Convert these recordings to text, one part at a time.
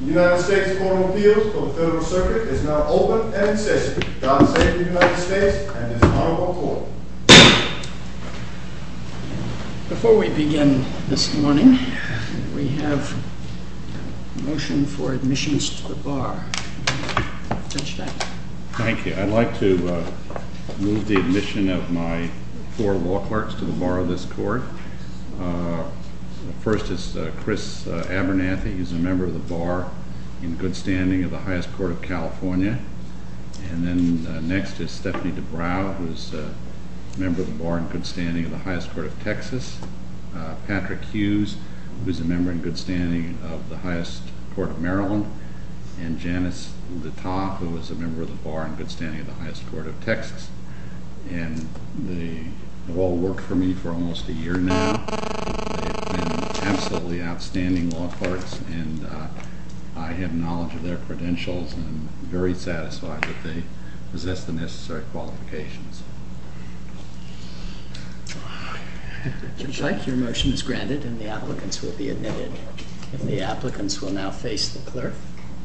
The United States Court of Appeals for the Federal Circuit is now open and in session. God save the United States and this honorable court. Before we begin this morning, we have a motion for admissions to the bar. Judge Steinberg. Thank you. I'd like to move the admission of my four law clerks to the bar of this court. First is Chris Abernathy. He's a member of the Bar in Good Standing of the Highest Court of California. And then next is Stephanie DeBrow, who is a member of the Bar in Good Standing of the Highest Court of Texas. Patrick Hughes, who is a member in good standing of the Highest Court of Maryland. And Janice Littoff, who is a member of the Bar in Good Standing of the Highest Court of Texas. And they've all worked for me for almost a year now. They've been absolutely outstanding law clerks and I have knowledge of their credentials. I'm very satisfied that they possess the necessary qualifications. If you'd like, your motion is granted and the applicants will be admitted. If the applicants will now face the clerk,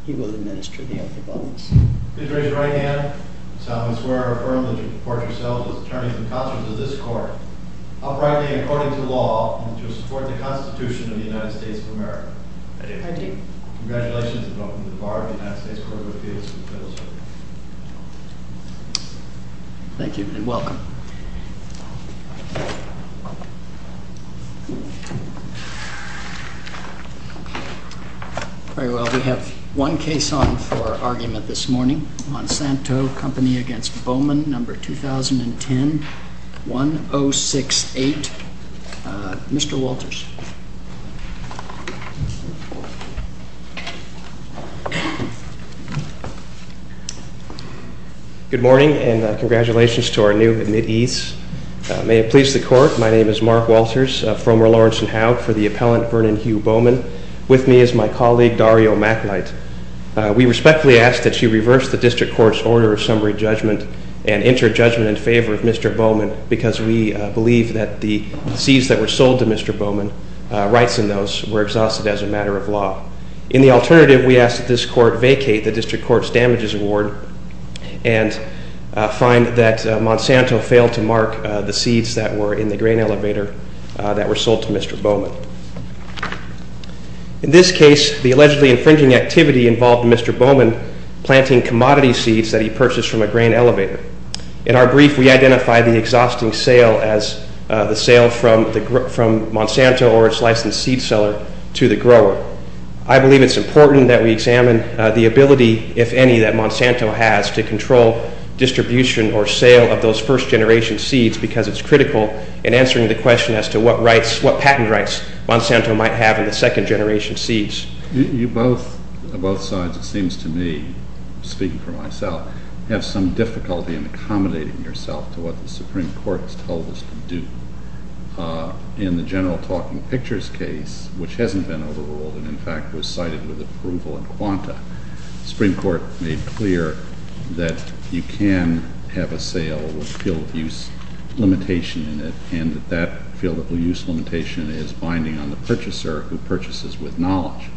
he will administer the oath of office. Please raise your right hand. I solemnly swear or affirm that you will report yourselves as attorneys and counselors of this court, uprightly and according to law, and to support the Constitution of the United States of America. I do. Congratulations and welcome to the Bar of the United States Court of Appeals. Thank you and welcome. Very well, we have one case on for argument this morning. Monsanto Company against Bowman, number 2010-1068. Mr. Walters. Good morning and congratulations to our new admittee. May it please the court, my name is Mark Walters, a former Lawrence and Howe for the appellant Vernon Hugh Bowman. With me is my colleague Dario Macklight. We respectfully ask that you reverse the district court's order of summary judgment and enter judgment in favor of Mr. Bowman because we believe that the seeds that were sold to Mr. Bowman, rights in those, were exhausted as a matter of law. In the alternative, we ask that this court vacate the district court's damages award and find that Monsanto failed to mark the seeds that were in the grain elevator that were sold to Mr. Bowman. In this case, the allegedly infringing activity involved Mr. Bowman planting commodity seeds that he purchased from a grain elevator. In our brief, we identify the exhausting sale as the sale from Monsanto or its licensed seed seller to the grower. I believe it's important that we examine the ability, if any, that Monsanto has to control distribution or sale of those first generation seeds because it's critical in answering the question as to what patent rights Monsanto might have in the second generation seeds. You both, on both sides, it seems to me, speaking for myself, have some difficulty in accommodating yourself to what the Supreme Court has told us to do. In the general talking pictures case, which hasn't been overruled and, in fact, was cited with approval in quanta, the Supreme Court made clear that you can have a sale with field use limitation in it and that that field use limitation is binding on the purchaser who purchases with knowledge.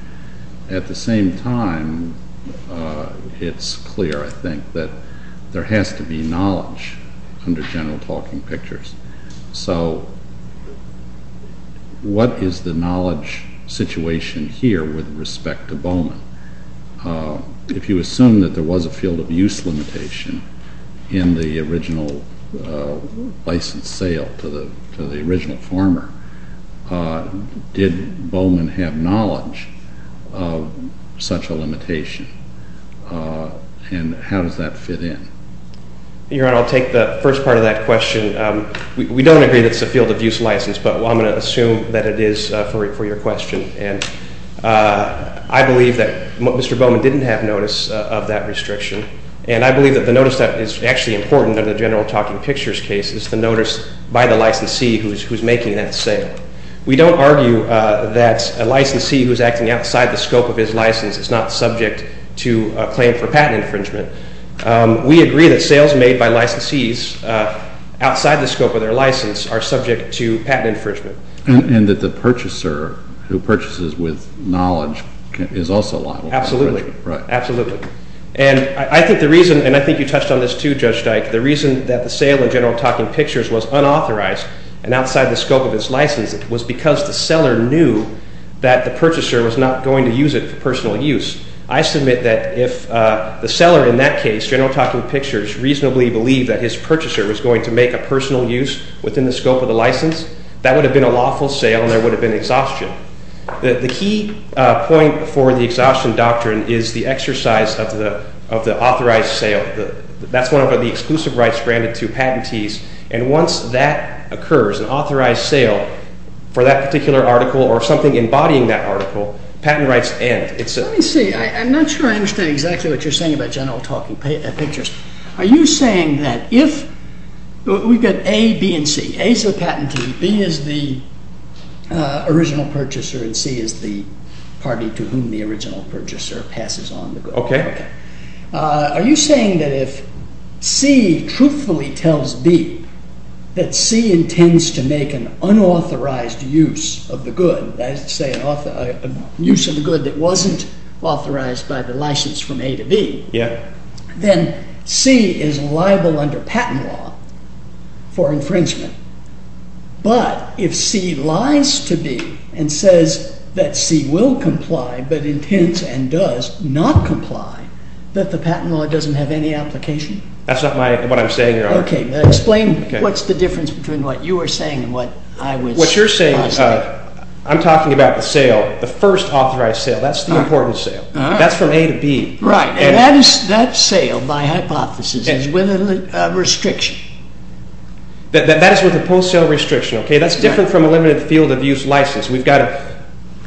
At the same time, it's clear, I think, that there has to be knowledge under general talking pictures. So what is the knowledge situation here with respect to Bowman? If you assume that there was a field of use limitation in the original licensed sale to the original farmer, did Bowman have knowledge of such a limitation and how does that fit in? Your Honor, I'll take the first part of that question. We don't agree that it's a field of use license, but I'm going to assume that it is for your question. And I believe that Mr. Bowman didn't have notice of that restriction. And I believe that the notice that is actually important in the general talking pictures case is the notice by the licensee who's making that sale. We don't argue that a licensee who's acting outside the scope of his license is not subject to a claim for patent infringement. We agree that sales made by licensees outside the scope of their license are subject to patent infringement. And that the purchaser who purchases with knowledge is also liable for infringement. Absolutely. Absolutely. And I think the reason, and I think you touched on this too, Judge Dyke, the reason that the sale in general talking pictures was unauthorized and outside the scope of its license was because the seller knew that the purchaser was not going to use it for personal use. I submit that if the seller in that case, general talking pictures, reasonably believed that his purchaser was going to make a personal use within the scope of the license, that would have been a lawful sale and there would have been exhaustion. The key point for the exhaustion doctrine is the exercise of the authorized sale. That's one of the exclusive rights granted to patentees. And once that occurs, an authorized sale for that particular article or something embodying that article, patent rights end. Let me see. I'm not sure I understand exactly what you're saying about general talking pictures. Are you saying that if, we've got A, B, and C. A is the patentee, B is the original purchaser, and C is the party to whom the original purchaser passes on the good. Okay. Are you saying that if C truthfully tells B that C intends to make an unauthorized use of the good, that is to say, an use of the good that wasn't authorized by the license from A to B. Yeah. Then C is liable under patent law for infringement. But if C lies to B and says that C will comply but intends and does not comply, that the patent law doesn't have any application? That's not what I'm saying, Your Honor. Okay. Explain what's the difference between what you were saying and what I was asking. What you're saying, I'm talking about the sale, the first authorized sale. That's the important sale. That's from A to B. Right. And that sale, by hypothesis, is with a restriction. That is with a post-sale restriction. Okay. That's different from a limited field of use license. We've got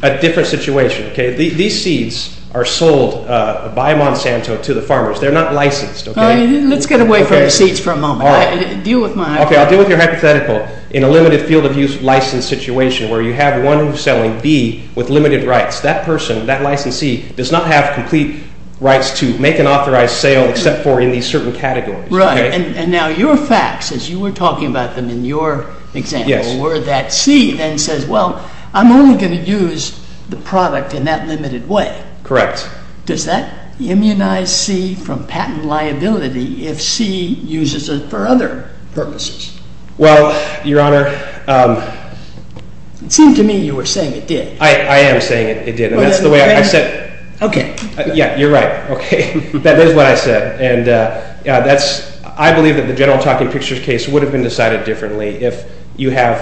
a different situation. Okay. These seeds are sold by Monsanto to the farmers. They're not licensed. Okay. Let's get away from the seeds for a moment. All right. Deal with my hypothetical. In a limited field of use license situation where you have one who's selling B with limited rights, that person, that licensee, does not have complete rights to make an authorized sale except for in these certain categories. Right. And now your facts, as you were talking about them in your example, were that C then says, well, I'm only going to use the product in that limited way. Correct. Does that immunize C from patent liability if C uses it for other purposes? Well, Your Honor. It seemed to me you were saying it did. I am saying it did. And that's the way I said it. Okay. Yeah, you're right. Okay. That is what I said. And I believe that the general talking pictures case would have been decided differently if you have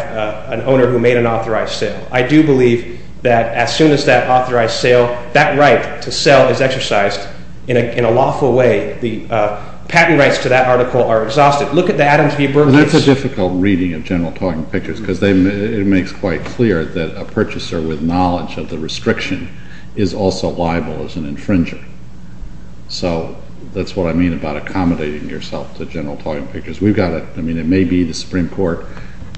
an owner who made an authorized sale. I do believe that as soon as that authorized sale, that right to sell is exercised in a lawful way. The patent rights to that article are exhausted. Look at the Adams v. Bergman. That's a difficult reading of general talking pictures because it makes quite clear that a purchaser with knowledge of the restriction is also liable as an infringer. So that's what I mean about accommodating yourself to general talking pictures. We've got to – I mean it may be the Supreme Court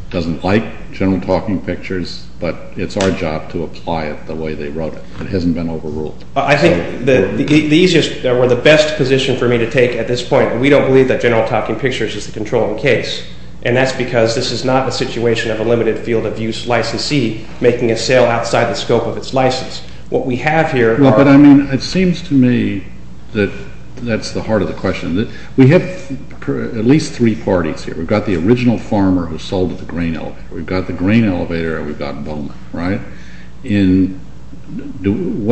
doesn't like general talking pictures, but it's our job to apply it the way they wrote it. It hasn't been overruled. I think the easiest or the best position for me to take at this point, we don't believe that general talking pictures is the controlling case, and that's because this is not a situation of a limited field of use licensee making a sale outside the scope of its license. What we have here are – But, I mean, it seems to me that that's the heart of the question. We have at least three parties here. We've got the original farmer who sold the grain elevator. We've got the grain elevator, and we've got Bowman, right? What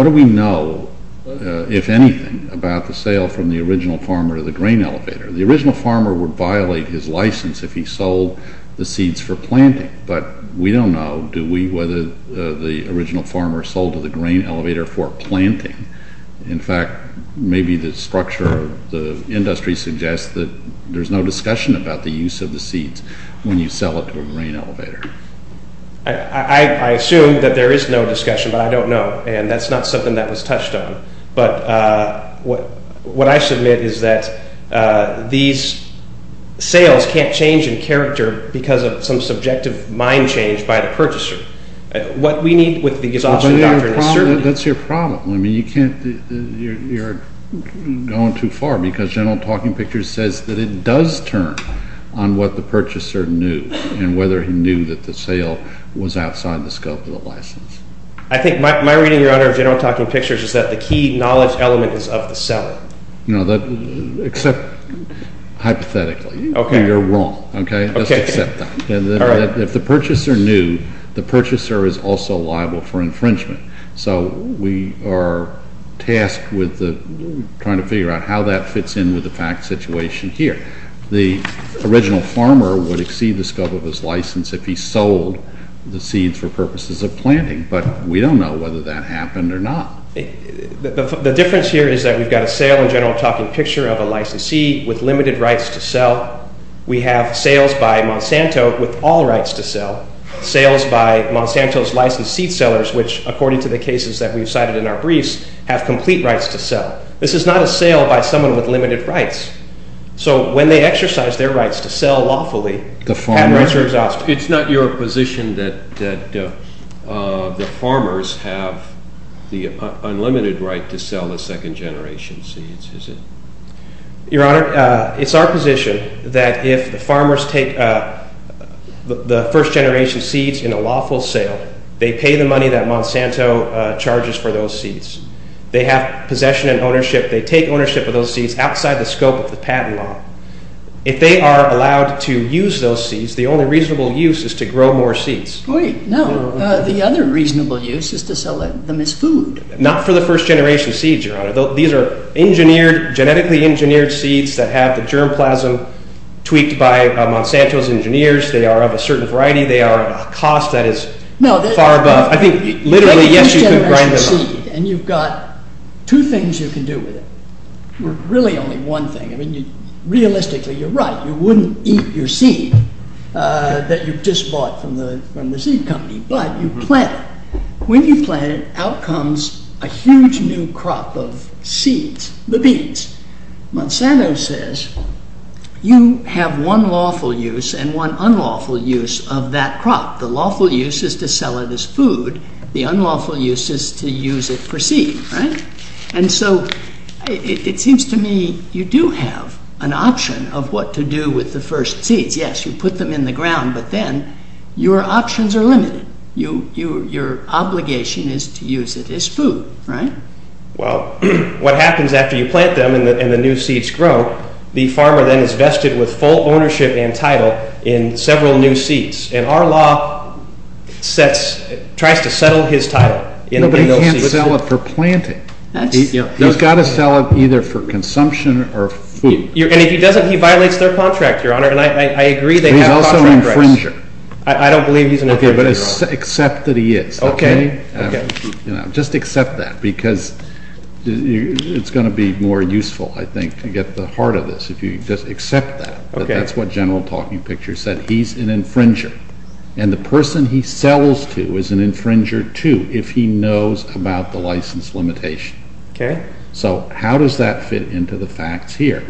do we know, if anything, about the sale from the original farmer to the grain elevator? The original farmer would violate his license if he sold the seeds for planting, but we don't know whether the original farmer sold to the grain elevator for planting. In fact, maybe the structure of the industry suggests that there's no discussion about the use of the seeds when you sell it to a grain elevator. I assume that there is no discussion, but I don't know, and that's not something that was touched on. But what I submit is that these sales can't change in character because of some subjective mind change by the purchaser. What we need with the exhaustion doctrine is certainty. That's your problem. I mean, you can't – you're going too far because general talking pictures says that it does turn on what the purchaser knew and whether he knew that the sale was outside the scope of the license. I think my reading, Your Honor, of general talking pictures is that the key knowledge element is of the seller. No, except hypothetically. Okay. You're wrong. Okay. Let's accept that. All right. If the purchaser knew, the purchaser is also liable for infringement. So we are tasked with trying to figure out how that fits in with the fact situation here. The original farmer would exceed the scope of his license if he sold the seeds for purposes of planting, but we don't know whether that happened or not. The difference here is that we've got a sale in general talking picture of a licensed seed with limited rights to sell. We have sales by Monsanto with all rights to sell, sales by Monsanto's licensed seed sellers, which, according to the cases that we've cited in our briefs, have complete rights to sell. This is not a sale by someone with limited rights. So when they exercise their rights to sell lawfully, their rights are exhausted. It's not your position that the farmers have the unlimited right to sell the second-generation seeds, is it? Your Honor, it's our position that if the farmers take the first-generation seeds in a lawful sale, they pay the money that Monsanto charges for those seeds. They have possession and ownership. They take ownership of those seeds outside the scope of the patent law. If they are allowed to use those seeds, the only reasonable use is to grow more seeds. Wait, no. The other reasonable use is to sell them as food. Not for the first-generation seeds, Your Honor. These are genetically engineered seeds that have the germ plasm tweaked by Monsanto's engineers. They are of a certain variety. They are at a cost that is far above. I think literally, yes, you can grind them up. You take a first-generation seed, and you've got two things you can do with it. Really only one thing. Realistically, you're right. You wouldn't eat your seed that you've just bought from the seed company, but you plant it. When you plant it, out comes a huge new crop of seeds, the beans. Monsanto says you have one lawful use and one unlawful use of that crop. The lawful use is to sell it as food. The unlawful use is to use it for seed. And so it seems to me you do have an option of what to do with the first seeds. Yes, you put them in the ground, but then your options are limited. Your obligation is to use it as food. Well, what happens after you plant them and the new seeds grow, the farmer then is vested with full ownership and title in several new seeds. And our law tries to settle his title. But he can't sell it for planting. He's got to sell it either for consumption or food. And if he doesn't, he violates their contract, Your Honor, and I agree they have contract rights. He's also an infringer. I don't believe he's an infringer, Your Honor. Okay, but accept that he is. Okay. Just accept that because it's going to be more useful, I think, to get to the heart of this if you just accept that. That's what General Talking Pictures said. He's an infringer. And the person he sells to is an infringer too if he knows about the license limitation. Okay. So how does that fit into the facts here?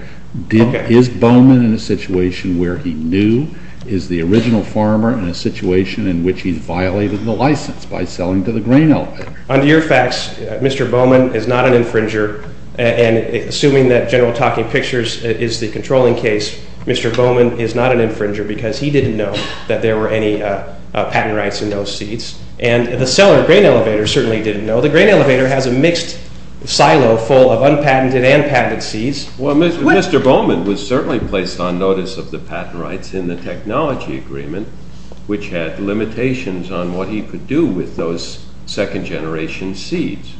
Is Bowman in a situation where he knew is the original farmer in a situation in which he violated the license by selling to the grain elevator? Under your facts, Mr. Bowman is not an infringer. And assuming that General Talking Pictures is the controlling case, Mr. Bowman is not an infringer because he didn't know that there were any patent rights in those seeds. And the seller, grain elevator, certainly didn't know. The grain elevator has a mixed silo full of unpatented and patented seeds. Well, Mr. Bowman was certainly placed on notice of the patent rights in the technology agreement, which had limitations on what he could do with those second-generation seeds.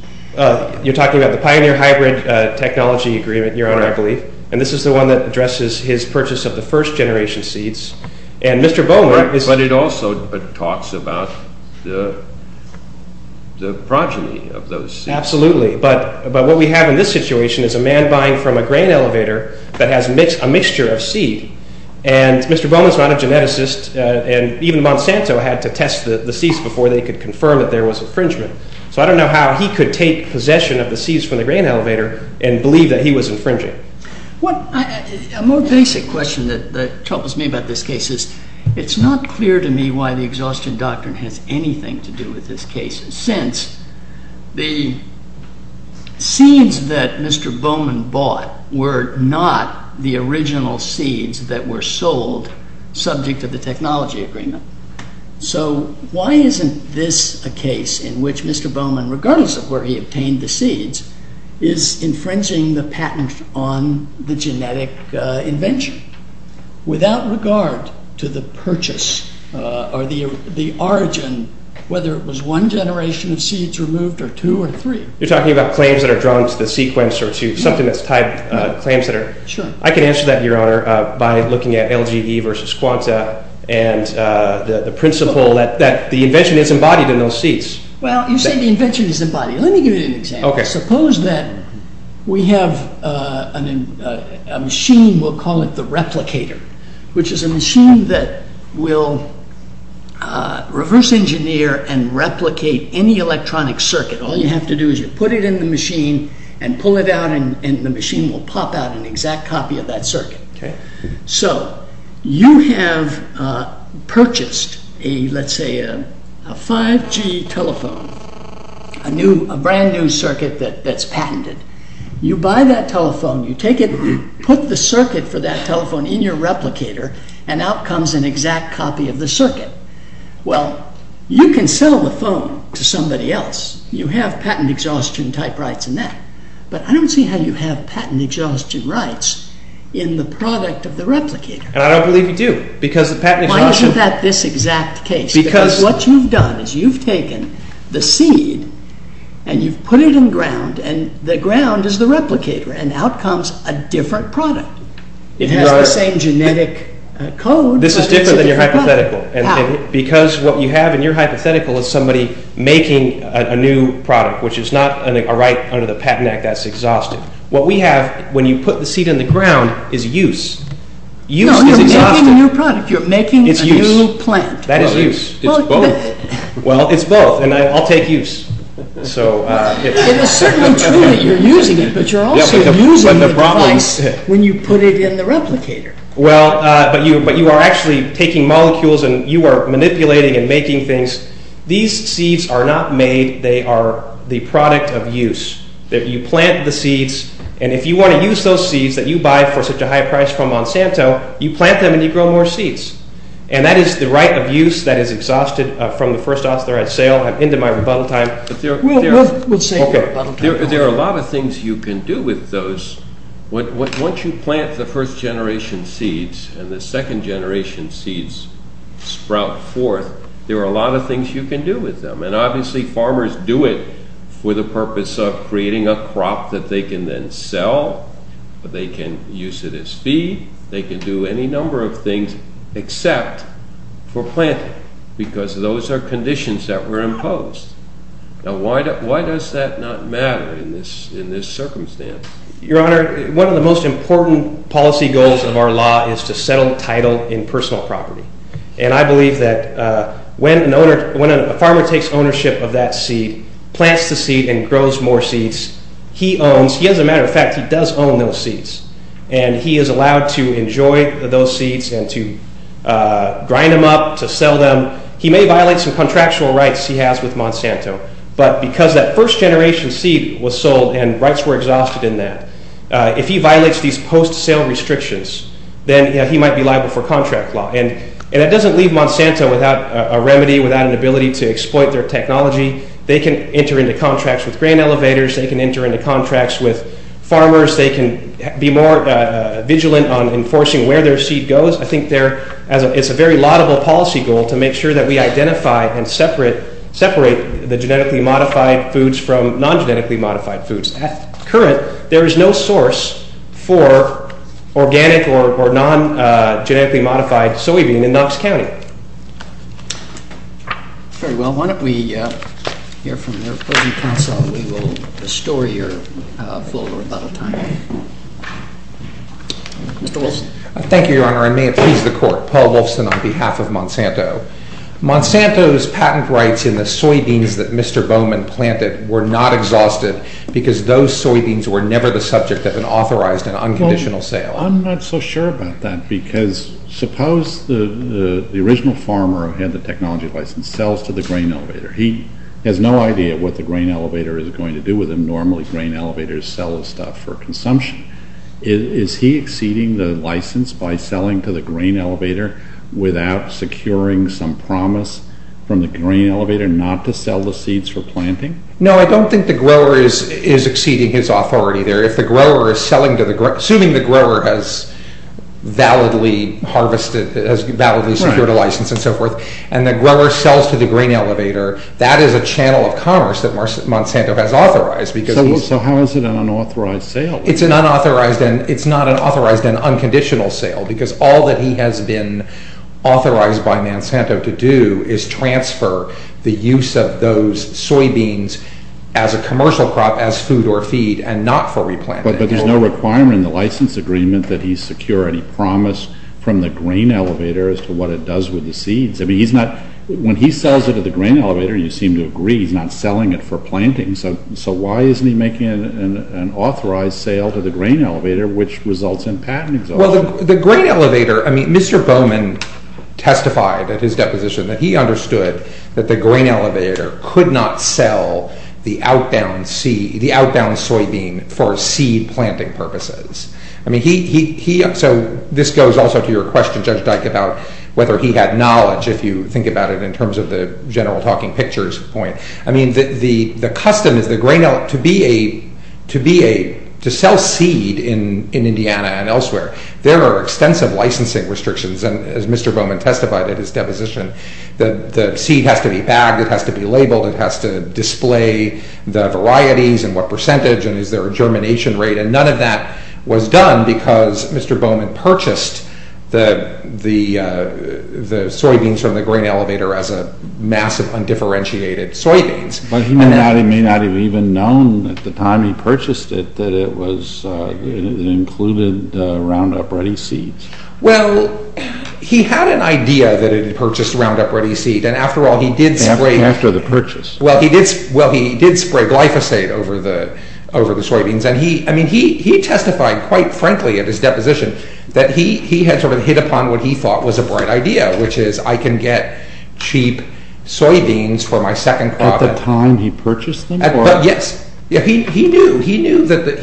You're talking about the Pioneer Hybrid Technology Agreement, Your Honor, I believe. And this is the one that addresses his purchase of the first-generation seeds. But it also talks about the progeny of those seeds. Absolutely. But what we have in this situation is a man buying from a grain elevator that has a mixture of seed. And Mr. Bowman is not a geneticist. And even Monsanto had to test the seeds before they could confirm that there was infringement. So I don't know how he could take possession of the seeds from the grain elevator and believe that he was infringing. A more basic question that troubles me about this case is it's not clear to me why the exhaustion doctrine has anything to do with this case, since the seeds that Mr. Bowman bought were not the original seeds that were sold subject to the technology agreement. So why isn't this a case in which Mr. Bowman, regardless of where he obtained the seeds, is infringing the patent on the genetic invention, without regard to the purchase or the origin, whether it was one generation of seeds removed or two or three? You're talking about claims that are drawn to the sequence or to something that's tied, claims that are… Sure. I can answer that, Your Honor, by looking at LGE versus Quanta and the principle that the invention is embodied in those seeds. Well, you say the invention is embodied. Let me give you an example. Suppose that we have a machine, we'll call it the replicator, which is a machine that will reverse engineer and replicate any electronic circuit. All you have to do is you put it in the machine and pull it out and the machine will pop out an exact copy of that circuit. So you have purchased, let's say, a 5G telephone, a brand new circuit that's patented. You buy that telephone, you put the circuit for that telephone in your replicator and out comes an exact copy of the circuit. Well, you can sell the phone to somebody else. You have patent exhaustion type rights in that. But I don't see how you have patent exhaustion rights in the product of the replicator. And I don't believe you do, because the patent exhaustion… Why isn't that this exact case? Because what you've done is you've taken the seed and you've put it in ground and the ground is the replicator and out comes a different product. It has the same genetic code, but it's a different product. Hypothetical. How? Because what you have in your hypothetical is somebody making a new product, which is not a right under the patent act that's exhaustive. What we have, when you put the seed in the ground, is use. Use is exhaustive. No, you're making a new product. You're making a new plant. That is use. It's both. Well, it's both, and I'll take use. It is certainly true that you're using it, but you're also using the device when you put it in the replicator. Well, but you are actually taking molecules and you are manipulating and making things. These seeds are not made. They are the product of use. You plant the seeds, and if you want to use those seeds that you buy for such a high price from Monsanto, you plant them and you grow more seeds. And that is the right of use that is exhausted from the first office they're at sale. I've ended my rebuttal time. We'll save your rebuttal time. There are a lot of things you can do with those. Once you plant the first-generation seeds and the second-generation seeds sprout forth, there are a lot of things you can do with them. And obviously, farmers do it for the purpose of creating a crop that they can then sell. They can use it as feed. They can do any number of things except for planting, because those are conditions that were imposed. Now, why does that not matter in this circumstance? Your Honor, one of the most important policy goals of our law is to settle title in personal property. And I believe that when a farmer takes ownership of that seed, plants the seed and grows more seeds, he owns – as a matter of fact, he does own those seeds. And he is allowed to enjoy those seeds and to grind them up, to sell them. He may violate some contractual rights he has with Monsanto. But because that first-generation seed was sold and rights were exhausted in that, if he violates these post-sale restrictions, then he might be liable for contract law. And that doesn't leave Monsanto without a remedy, without an ability to exploit their technology. They can enter into contracts with grain elevators. They can enter into contracts with farmers. They can be more vigilant on enforcing where their seed goes. I think there – it's a very laudable policy goal to make sure that we identify and separate the genetically modified foods from non-genetically modified foods. At current, there is no source for organic or non-genetically modified soybean in Knox County. Very well. Why don't we hear from the opposing counsel, and we will restore your full rebuttal time. Mr. Wilson. Thank you, Your Honor, and may it please the Court. Paul Wilson on behalf of Monsanto. Monsanto's patent rights in the soybeans that Mr. Bowman planted were not exhausted because those soybeans were never the subject of an authorized and unconditional sale. I'm not so sure about that because suppose the original farmer who had the technology license sells to the grain elevator. He has no idea what the grain elevator is going to do with him. Normally, grain elevators sell the stuff for consumption. Is he exceeding the license by selling to the grain elevator without securing some promise from the grain elevator not to sell the seeds for planting? No, I don't think the grower is exceeding his authority there. If the grower is selling to the – assuming the grower has validly harvested, has validly secured a license and so forth, and the grower sells to the grain elevator, that is a channel of commerce that Monsanto has authorized. So how is it an unauthorized sale? It's an unauthorized and – it's not an authorized and unconditional sale because all that he has been authorized by Monsanto to do is transfer the use of those soybeans as a commercial crop, as food or feed, and not for replanting. But there's no requirement in the license agreement that he secure any promise from the grain elevator as to what it does with the seeds. I mean, he's not – when he sells it to the grain elevator, you seem to agree he's not selling it for planting. So why isn't he making an authorized sale to the grain elevator, which results in patent exhaustion? Well, the grain elevator – I mean, Mr. Bowman testified at his deposition that he understood that the grain elevator could not sell the outbound soybean for seed planting purposes. I mean, he – so this goes also to your question, Judge Dyke, about whether he had knowledge, if you think about it in terms of the general talking pictures point. I mean, the custom is the grain elevator – to be a – to sell seed in Indiana and elsewhere, there are extensive licensing restrictions, and as Mr. Bowman testified at his deposition, the seed has to be bagged, it has to be labeled, it has to display the varieties and what percentage, and is there a germination rate? And none of that was done because Mr. Bowman purchased the soybeans from the grain elevator as a mass of undifferentiated soybeans. But he may not have even known at the time he purchased it that it was – it included Roundup Ready seeds. Well, he had an idea that it had purchased Roundup Ready seed, and after all, he did spray – After the purchase. Well, he did spray glyphosate over the soybeans, and he – I mean, he testified quite frankly at his deposition that he had sort of hit upon what he thought was a bright idea, which is I can get cheap soybeans for my second crop – At the time he purchased them? Yes. He knew that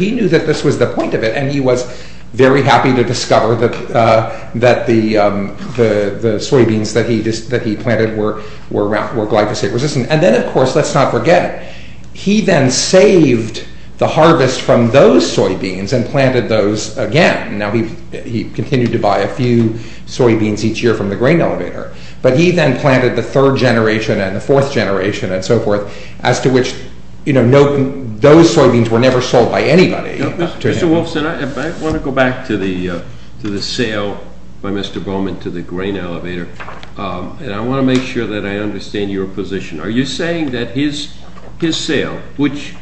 this was the point of it, and he was very happy to discover that the soybeans that he planted were glyphosate-resistant. And then, of course, let's not forget, he then saved the harvest from those soybeans and planted those again. Now, he continued to buy a few soybeans each year from the grain elevator. But he then planted the third generation and the fourth generation and so forth, as to which, you know, those soybeans were never sold by anybody. Mr. Wolfson, I want to go back to the sale by Mr. Bowman to the grain elevator, and I want to make sure that I understand your position. Are you saying that his sale, which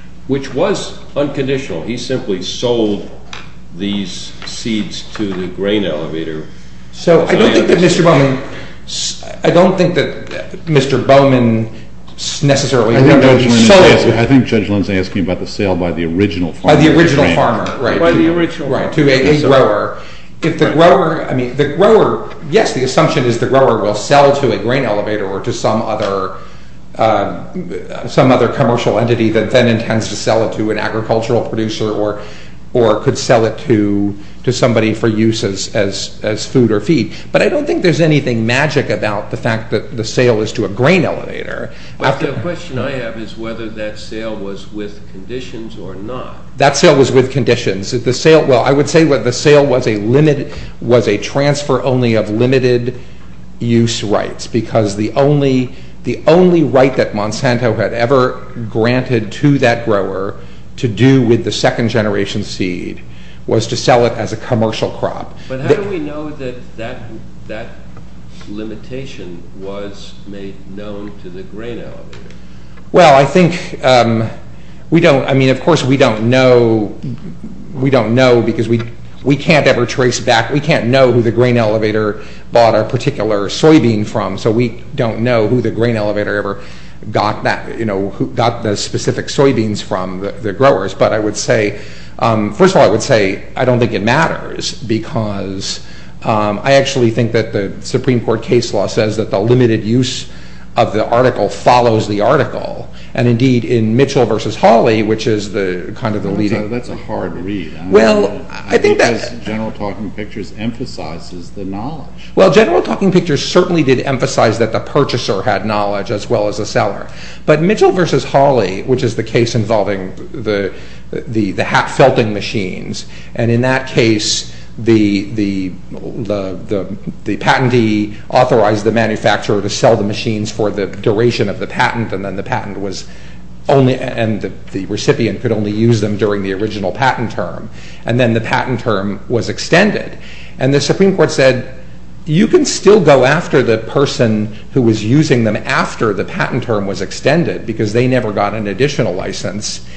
was unconditional, he simply sold these seeds to the grain elevator? That's true. So I don't think that Mr. Bowman – I don't think that Mr. Bowman necessarily – I think Judge Lynn is asking about the sale by the original farmer. By the original farmer, right, to a grower. If the grower – I mean, the grower – yes, the assumption is the grower will sell to a grain elevator or to some other commercial entity that then intends to sell it to an agricultural producer or could sell it to somebody for use as food or feed. But I don't think there's anything magic about the fact that the sale is to a grain elevator. But the question I have is whether that sale was with conditions or not. That sale was with conditions. Well, I would say the sale was a transfer only of limited use rights because the only right that Monsanto had ever granted to that grower to do with the second generation seed was to sell it as a commercial crop. But how do we know that that limitation was made known to the grain elevator? Well, I think we don't – I mean, of course, we don't know. We don't know because we can't ever trace back – we can't know who the grain elevator bought a particular soybean from, so we don't know who the grain elevator ever got the specific soybeans from, the growers. But I would say – first of all, I would say I don't think it matters because I actually think that the Supreme Court case law says that the limited use of the article follows the article. And indeed, in Mitchell v. Hawley, which is kind of the leading – That's a hard read. Well, I think that – Because General Talking Pictures emphasizes the knowledge. Well, General Talking Pictures certainly did emphasize that the purchaser had knowledge as well as the seller. But Mitchell v. Hawley, which is the case involving the hat felting machines, and in that case the patentee authorized the manufacturer to sell the machines for the duration of the patent and then the patent was only – and the recipient could only use them during the original patent term. And then the patent term was extended. And the Supreme Court said you can still go after the person who was using them after the patent term was extended because they never got an additional license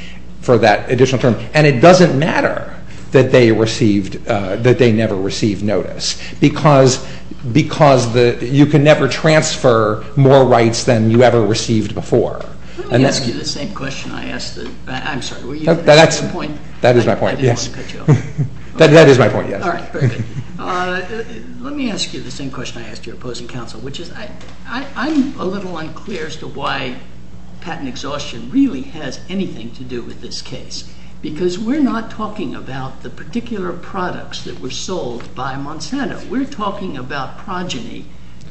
for that additional term. And it doesn't matter that they received – that they never received notice because you can never transfer more rights than you ever received before. Let me ask you the same question I asked the – I'm sorry. That's my point. That is my point, yes. I didn't want to cut you off. That is my point, yes. All right, perfect. Let me ask you the same question I asked your opposing counsel, which is I'm a little unclear as to why patent exhaustion really has anything to do with this case because we're not talking about the particular products that were sold by Monsanto. We're talking about progeny,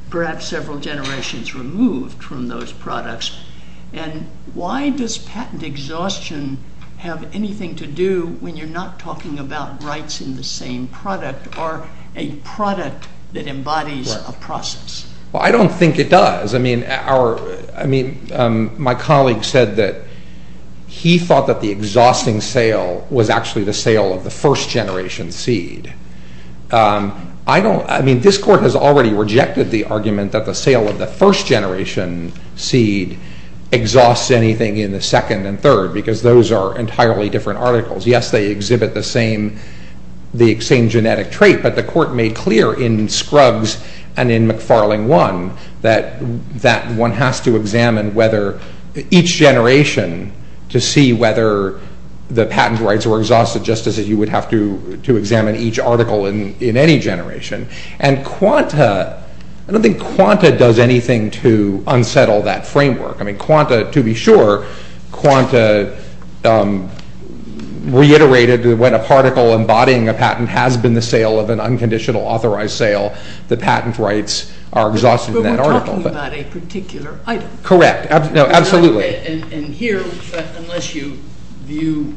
perhaps several generations removed from those products. And why does patent exhaustion have anything to do when you're not talking about rights in the same product or a product that embodies a process? Well, I don't think it does. I mean, our – I mean, my colleague said that he thought that the exhausting sale was actually the sale of the first-generation seed. I don't – I mean, this Court has already rejected the argument that the sale of the first-generation seed exhausts anything in the second and third because those are entirely different articles. Yes, they exhibit the same genetic trait, but the Court made clear in Scruggs and in McFarling 1 that one has to examine whether each generation to see whether the patent rights were exhausted just as you would have to examine each article in any generation. And Quanta – I don't think Quanta does anything to unsettle that framework. I mean, Quanta, to be sure, Quanta reiterated that when a particle embodying a patent has been the sale of an unconditional authorized sale, the patent rights are exhausted in that article. But we're talking about a particular item. Correct. No, absolutely. And here, unless you view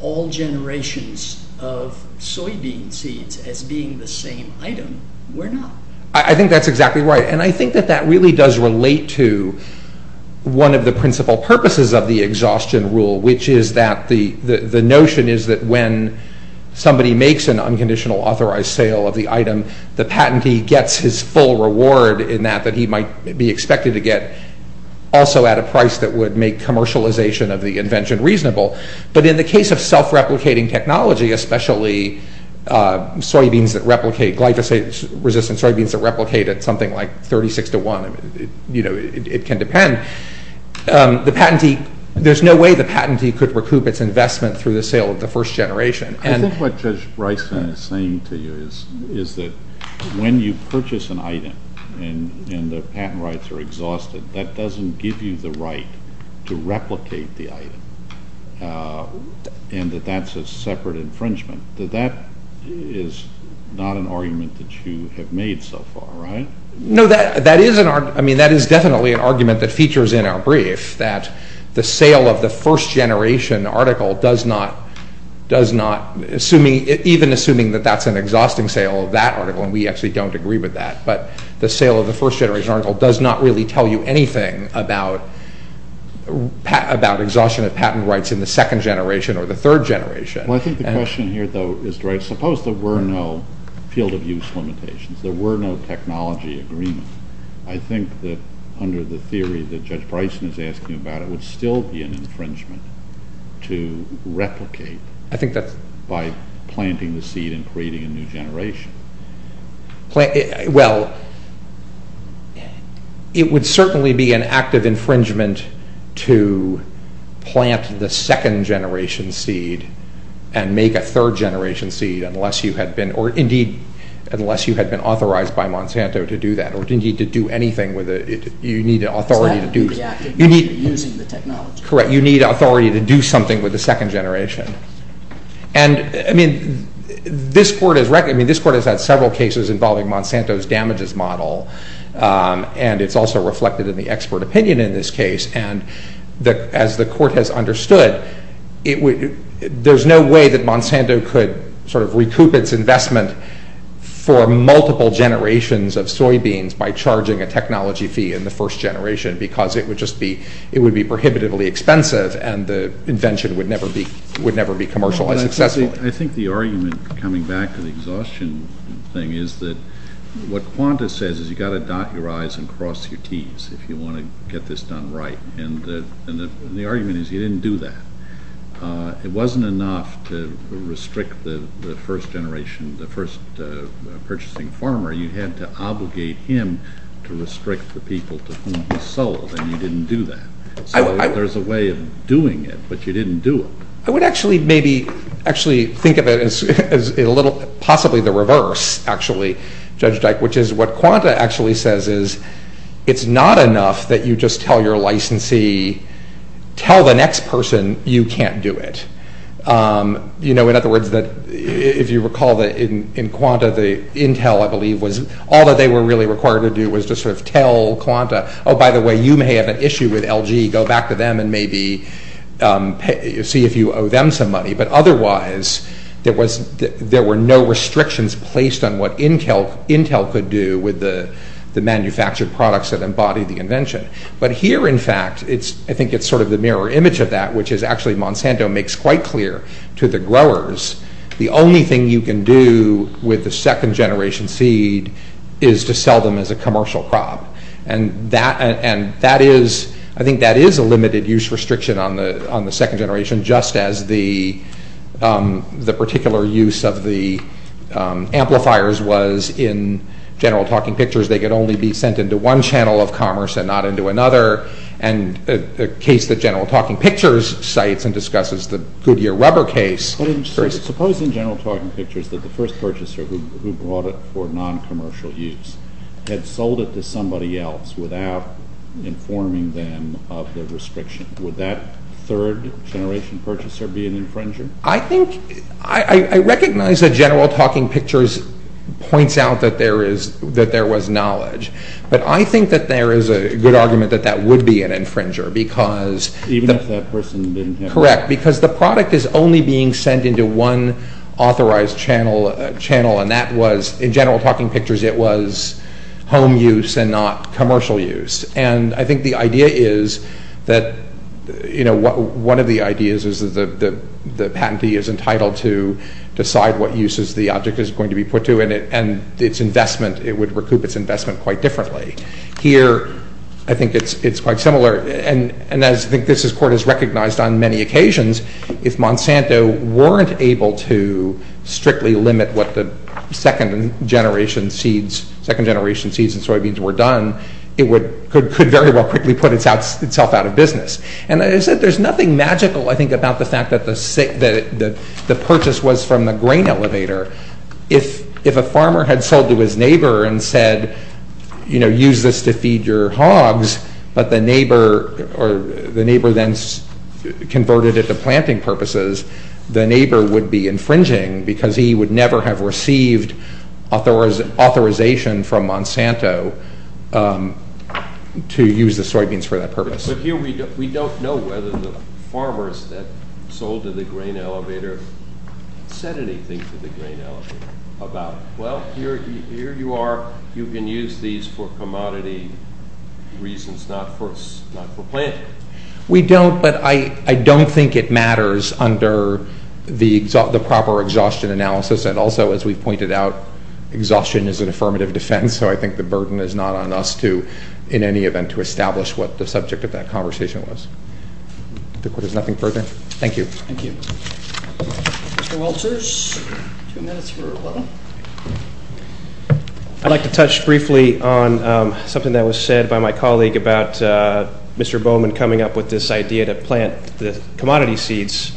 all generations of soybean seeds as being the same item, we're not. I think that's exactly right, and I think that that really does relate to one of the principal purposes of the exhaustion rule, which is that the notion is that when somebody makes an unconditional authorized sale of the item, the patentee gets his full reward in that that he might be expected to get also at a price that would make commercialization of the invention reasonable. But in the case of self-replicating technology, especially soybeans that replicate glyphosate-resistant soybeans that replicate at something like 36 to 1, you know, it can depend. The patentee – there's no way the patentee could recoup its investment through the sale of the first generation. I think what Judge Bryson is saying to you is that when you purchase an item and the patent rights are exhausted, that doesn't give you the right to replicate the item and that that's a separate infringement. That is not an argument that you have made so far, right? No, that is an – I mean, that is definitely an argument that features in our brief, that the sale of the first generation article does not – does not – even assuming that that's an exhausting sale of that article, and we actually don't agree with that, but the sale of the first generation article does not really tell you anything about exhaustion of patent rights in the second generation or the third generation. Well, I think the question here, though, is – suppose there were no field-of-use limitations, there were no technology agreements, I think that under the theory that Judge Bryson is asking about, it would still be an infringement to replicate by planting the seed and creating a new generation. Well, it would certainly be an act of infringement to plant the second-generation seed and make a third-generation seed unless you had been – or, indeed, unless you had been authorized by Monsanto to do that or, indeed, to do anything with it. You need authority to do – Is that the act of using the technology? Correct. You need authority to do something with the second generation. And, I mean, this court has – I mean, this court has had several cases involving Monsanto's damages model, and it's also reflected in the expert opinion in this case, and as the court has understood, there's no way that Monsanto could sort of recoup its investment for multiple generations of soybeans by charging a technology fee in the first generation because it would just be – and the invention would never be commercialized successfully. I think the argument, coming back to the exhaustion thing, is that what Qantas says is you've got to dot your I's and cross your T's if you want to get this done right, and the argument is you didn't do that. It wasn't enough to restrict the first-generation – the first-purchasing farmer. You had to obligate him to restrict the people to whom he sold, and you didn't do that. So there's a way of doing it, but you didn't do it. I would actually maybe – actually think of it as a little – possibly the reverse, actually, Judge Dyke, which is what Qantas actually says is it's not enough that you just tell your licensee, tell the next person you can't do it. You know, in other words, if you recall, in Qantas, Intel, I believe, was – all that they were really required to do was just sort of tell Qantas, oh, by the way, you may have an issue with LG. Go back to them and maybe see if you owe them some money, but otherwise there were no restrictions placed on what Intel could do with the manufactured products that embodied the invention. But here, in fact, I think it's sort of the mirror image of that, which is actually Monsanto makes quite clear to the growers the only thing you can do with the second-generation seed is to sell them as a commercial crop, and that is – I think that is a limited-use restriction on the second generation, just as the particular use of the amplifiers was in General Talking Pictures. They could only be sent into one channel of commerce and not into another, and a case that General Talking Pictures cites and discusses, the Goodyear rubber case. Suppose in General Talking Pictures that the first purchaser who brought it for non-commercial use had sold it to somebody else without informing them of the restriction. Would that third-generation purchaser be an infringer? I think – I recognize that General Talking Pictures points out that there was knowledge, but I think that there is a good argument that that would be an infringer because – Even if that person didn't have – Correct, because the product is only being sent into one authorized channel, and that was – in General Talking Pictures, it was home use and not commercial use. And I think the idea is that – one of the ideas is that the patentee is entitled to decide what uses the object is going to be put to, and its investment – it would recoup its investment quite differently. Here, I think it's quite similar, and as I think this Court has recognized on many occasions, if Monsanto weren't able to strictly limit what the second-generation seeds and soybeans were done, it could very well quickly put itself out of business. And as I said, there's nothing magical, I think, about the fact that the purchase was from the grain elevator. If a farmer had sold to his neighbor and said, you know, use this to feed your hogs, but the neighbor then converted it to planting purposes, the neighbor would be infringing because he would never have received authorization from Monsanto to use the soybeans for that purpose. But here we don't know whether the farmers that sold to the grain elevator said anything to the grain elevator about, well, here you are, you can use these for commodity reasons, not for planting. We don't, but I don't think it matters under the proper exhaustion analysis, and also, as we've pointed out, exhaustion is an affirmative defense, so I think the burden is not on us to, in any event, to establish what the subject of that conversation was. The Court has nothing further. Thank you. Thank you. Mr. Walters, two minutes for rebuttal. I'd like to touch briefly on something that was said by my colleague about Mr. Bowman coming up with this idea to plant the commodity seeds.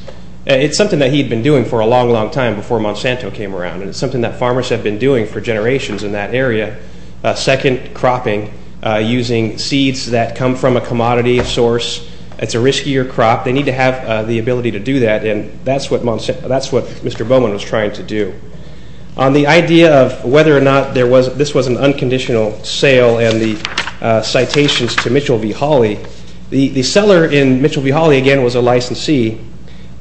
It's something that he had been doing for a long, long time before Monsanto came around, and it's something that farmers have been doing for generations in that area, second cropping, using seeds that come from a commodity source. It's a riskier crop. They need to have the ability to do that, and that's what Mr. Bowman was trying to do. On the idea of whether or not this was an unconditional sale and the citations to Mitchell v. Hawley, the seller in Mitchell v. Hawley, again, was a licensee,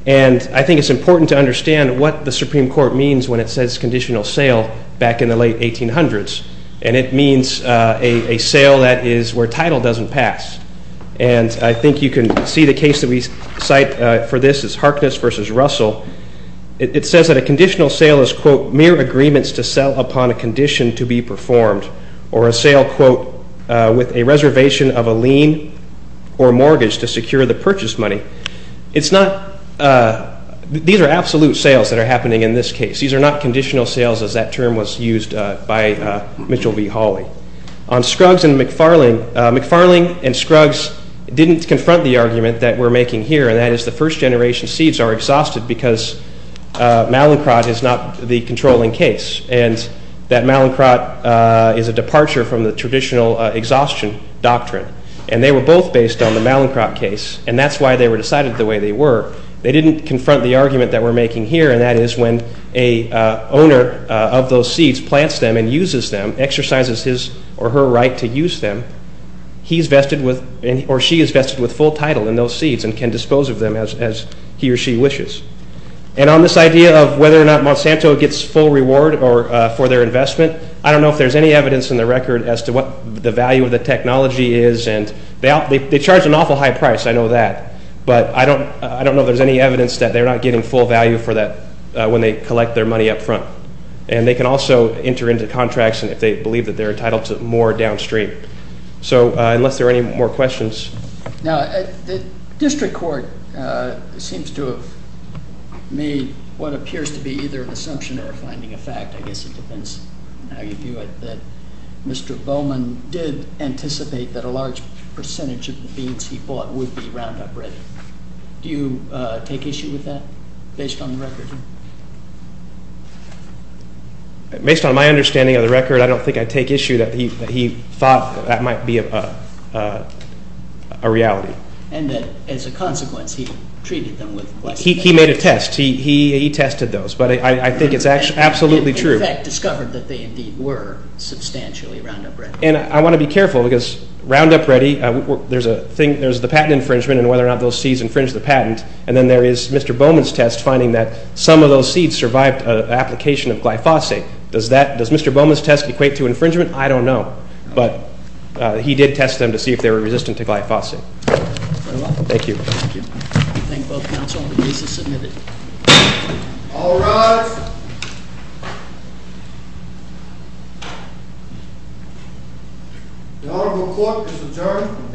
and I think it's important to understand what the Supreme Court means when it says conditional sale back in the late 1800s, and it means a sale that is where title doesn't pass, and I think you can see the case that we cite for this is Harkness v. Russell. It says that a conditional sale is, quote, mere agreements to sell upon a condition to be performed, or a sale, quote, with a reservation of a lien or mortgage to secure the purchase money. These are absolute sales that are happening in this case. These are not conditional sales as that term was used by Mitchell v. Hawley. On Scruggs v. McFarling, McFarling and Scruggs didn't confront the argument that we're making here, and that is the first generation seeds are exhausted because malincrot is not the controlling case, and that malincrot is a departure from the traditional exhaustion doctrine, and they were both based on the malincrot case, and that's why they were decided the way they were. They didn't confront the argument that we're making here, and that is when an owner of those seeds plants them and uses them, exercises his or her right to use them, he's vested with or she is vested with full title in those seeds and can dispose of them as he or she wishes. And on this idea of whether or not Monsanto gets full reward for their investment, I don't know if there's any evidence in the record as to what the value of the technology is, and they charge an awful high price, I know that, but I don't know if there's any evidence that they're not getting full value for that when they collect their money up front, and they can also enter into contracts if they believe that they're entitled to more downstream. So unless there are any more questions. Now, the district court seems to have made what appears to be either an assumption or a finding of fact. I guess it depends on how you view it, that Mr. Bowman did anticipate that a large percentage of the beans he bought would be Roundup ready. Do you take issue with that based on the record? Based on my understanding of the record, I don't think I take issue that he thought that might be a reality. And that as a consequence, he treated them with – He made a test. He tested those, but I think it's absolutely true. He, in effect, discovered that they indeed were substantially Roundup ready. And I want to be careful because Roundup ready, there's the patent infringement and whether or not those seeds infringe the patent, and then there is Mr. Bowman's test finding that some of those seeds survived an application of glyphosate. Does Mr. Bowman's test equate to infringement? I don't know. But he did test them to see if they were resistant to glyphosate. Thank you. Thank you. I thank both counsel. The case is submitted. All rise. The Honorable Court is adjourned from today to today.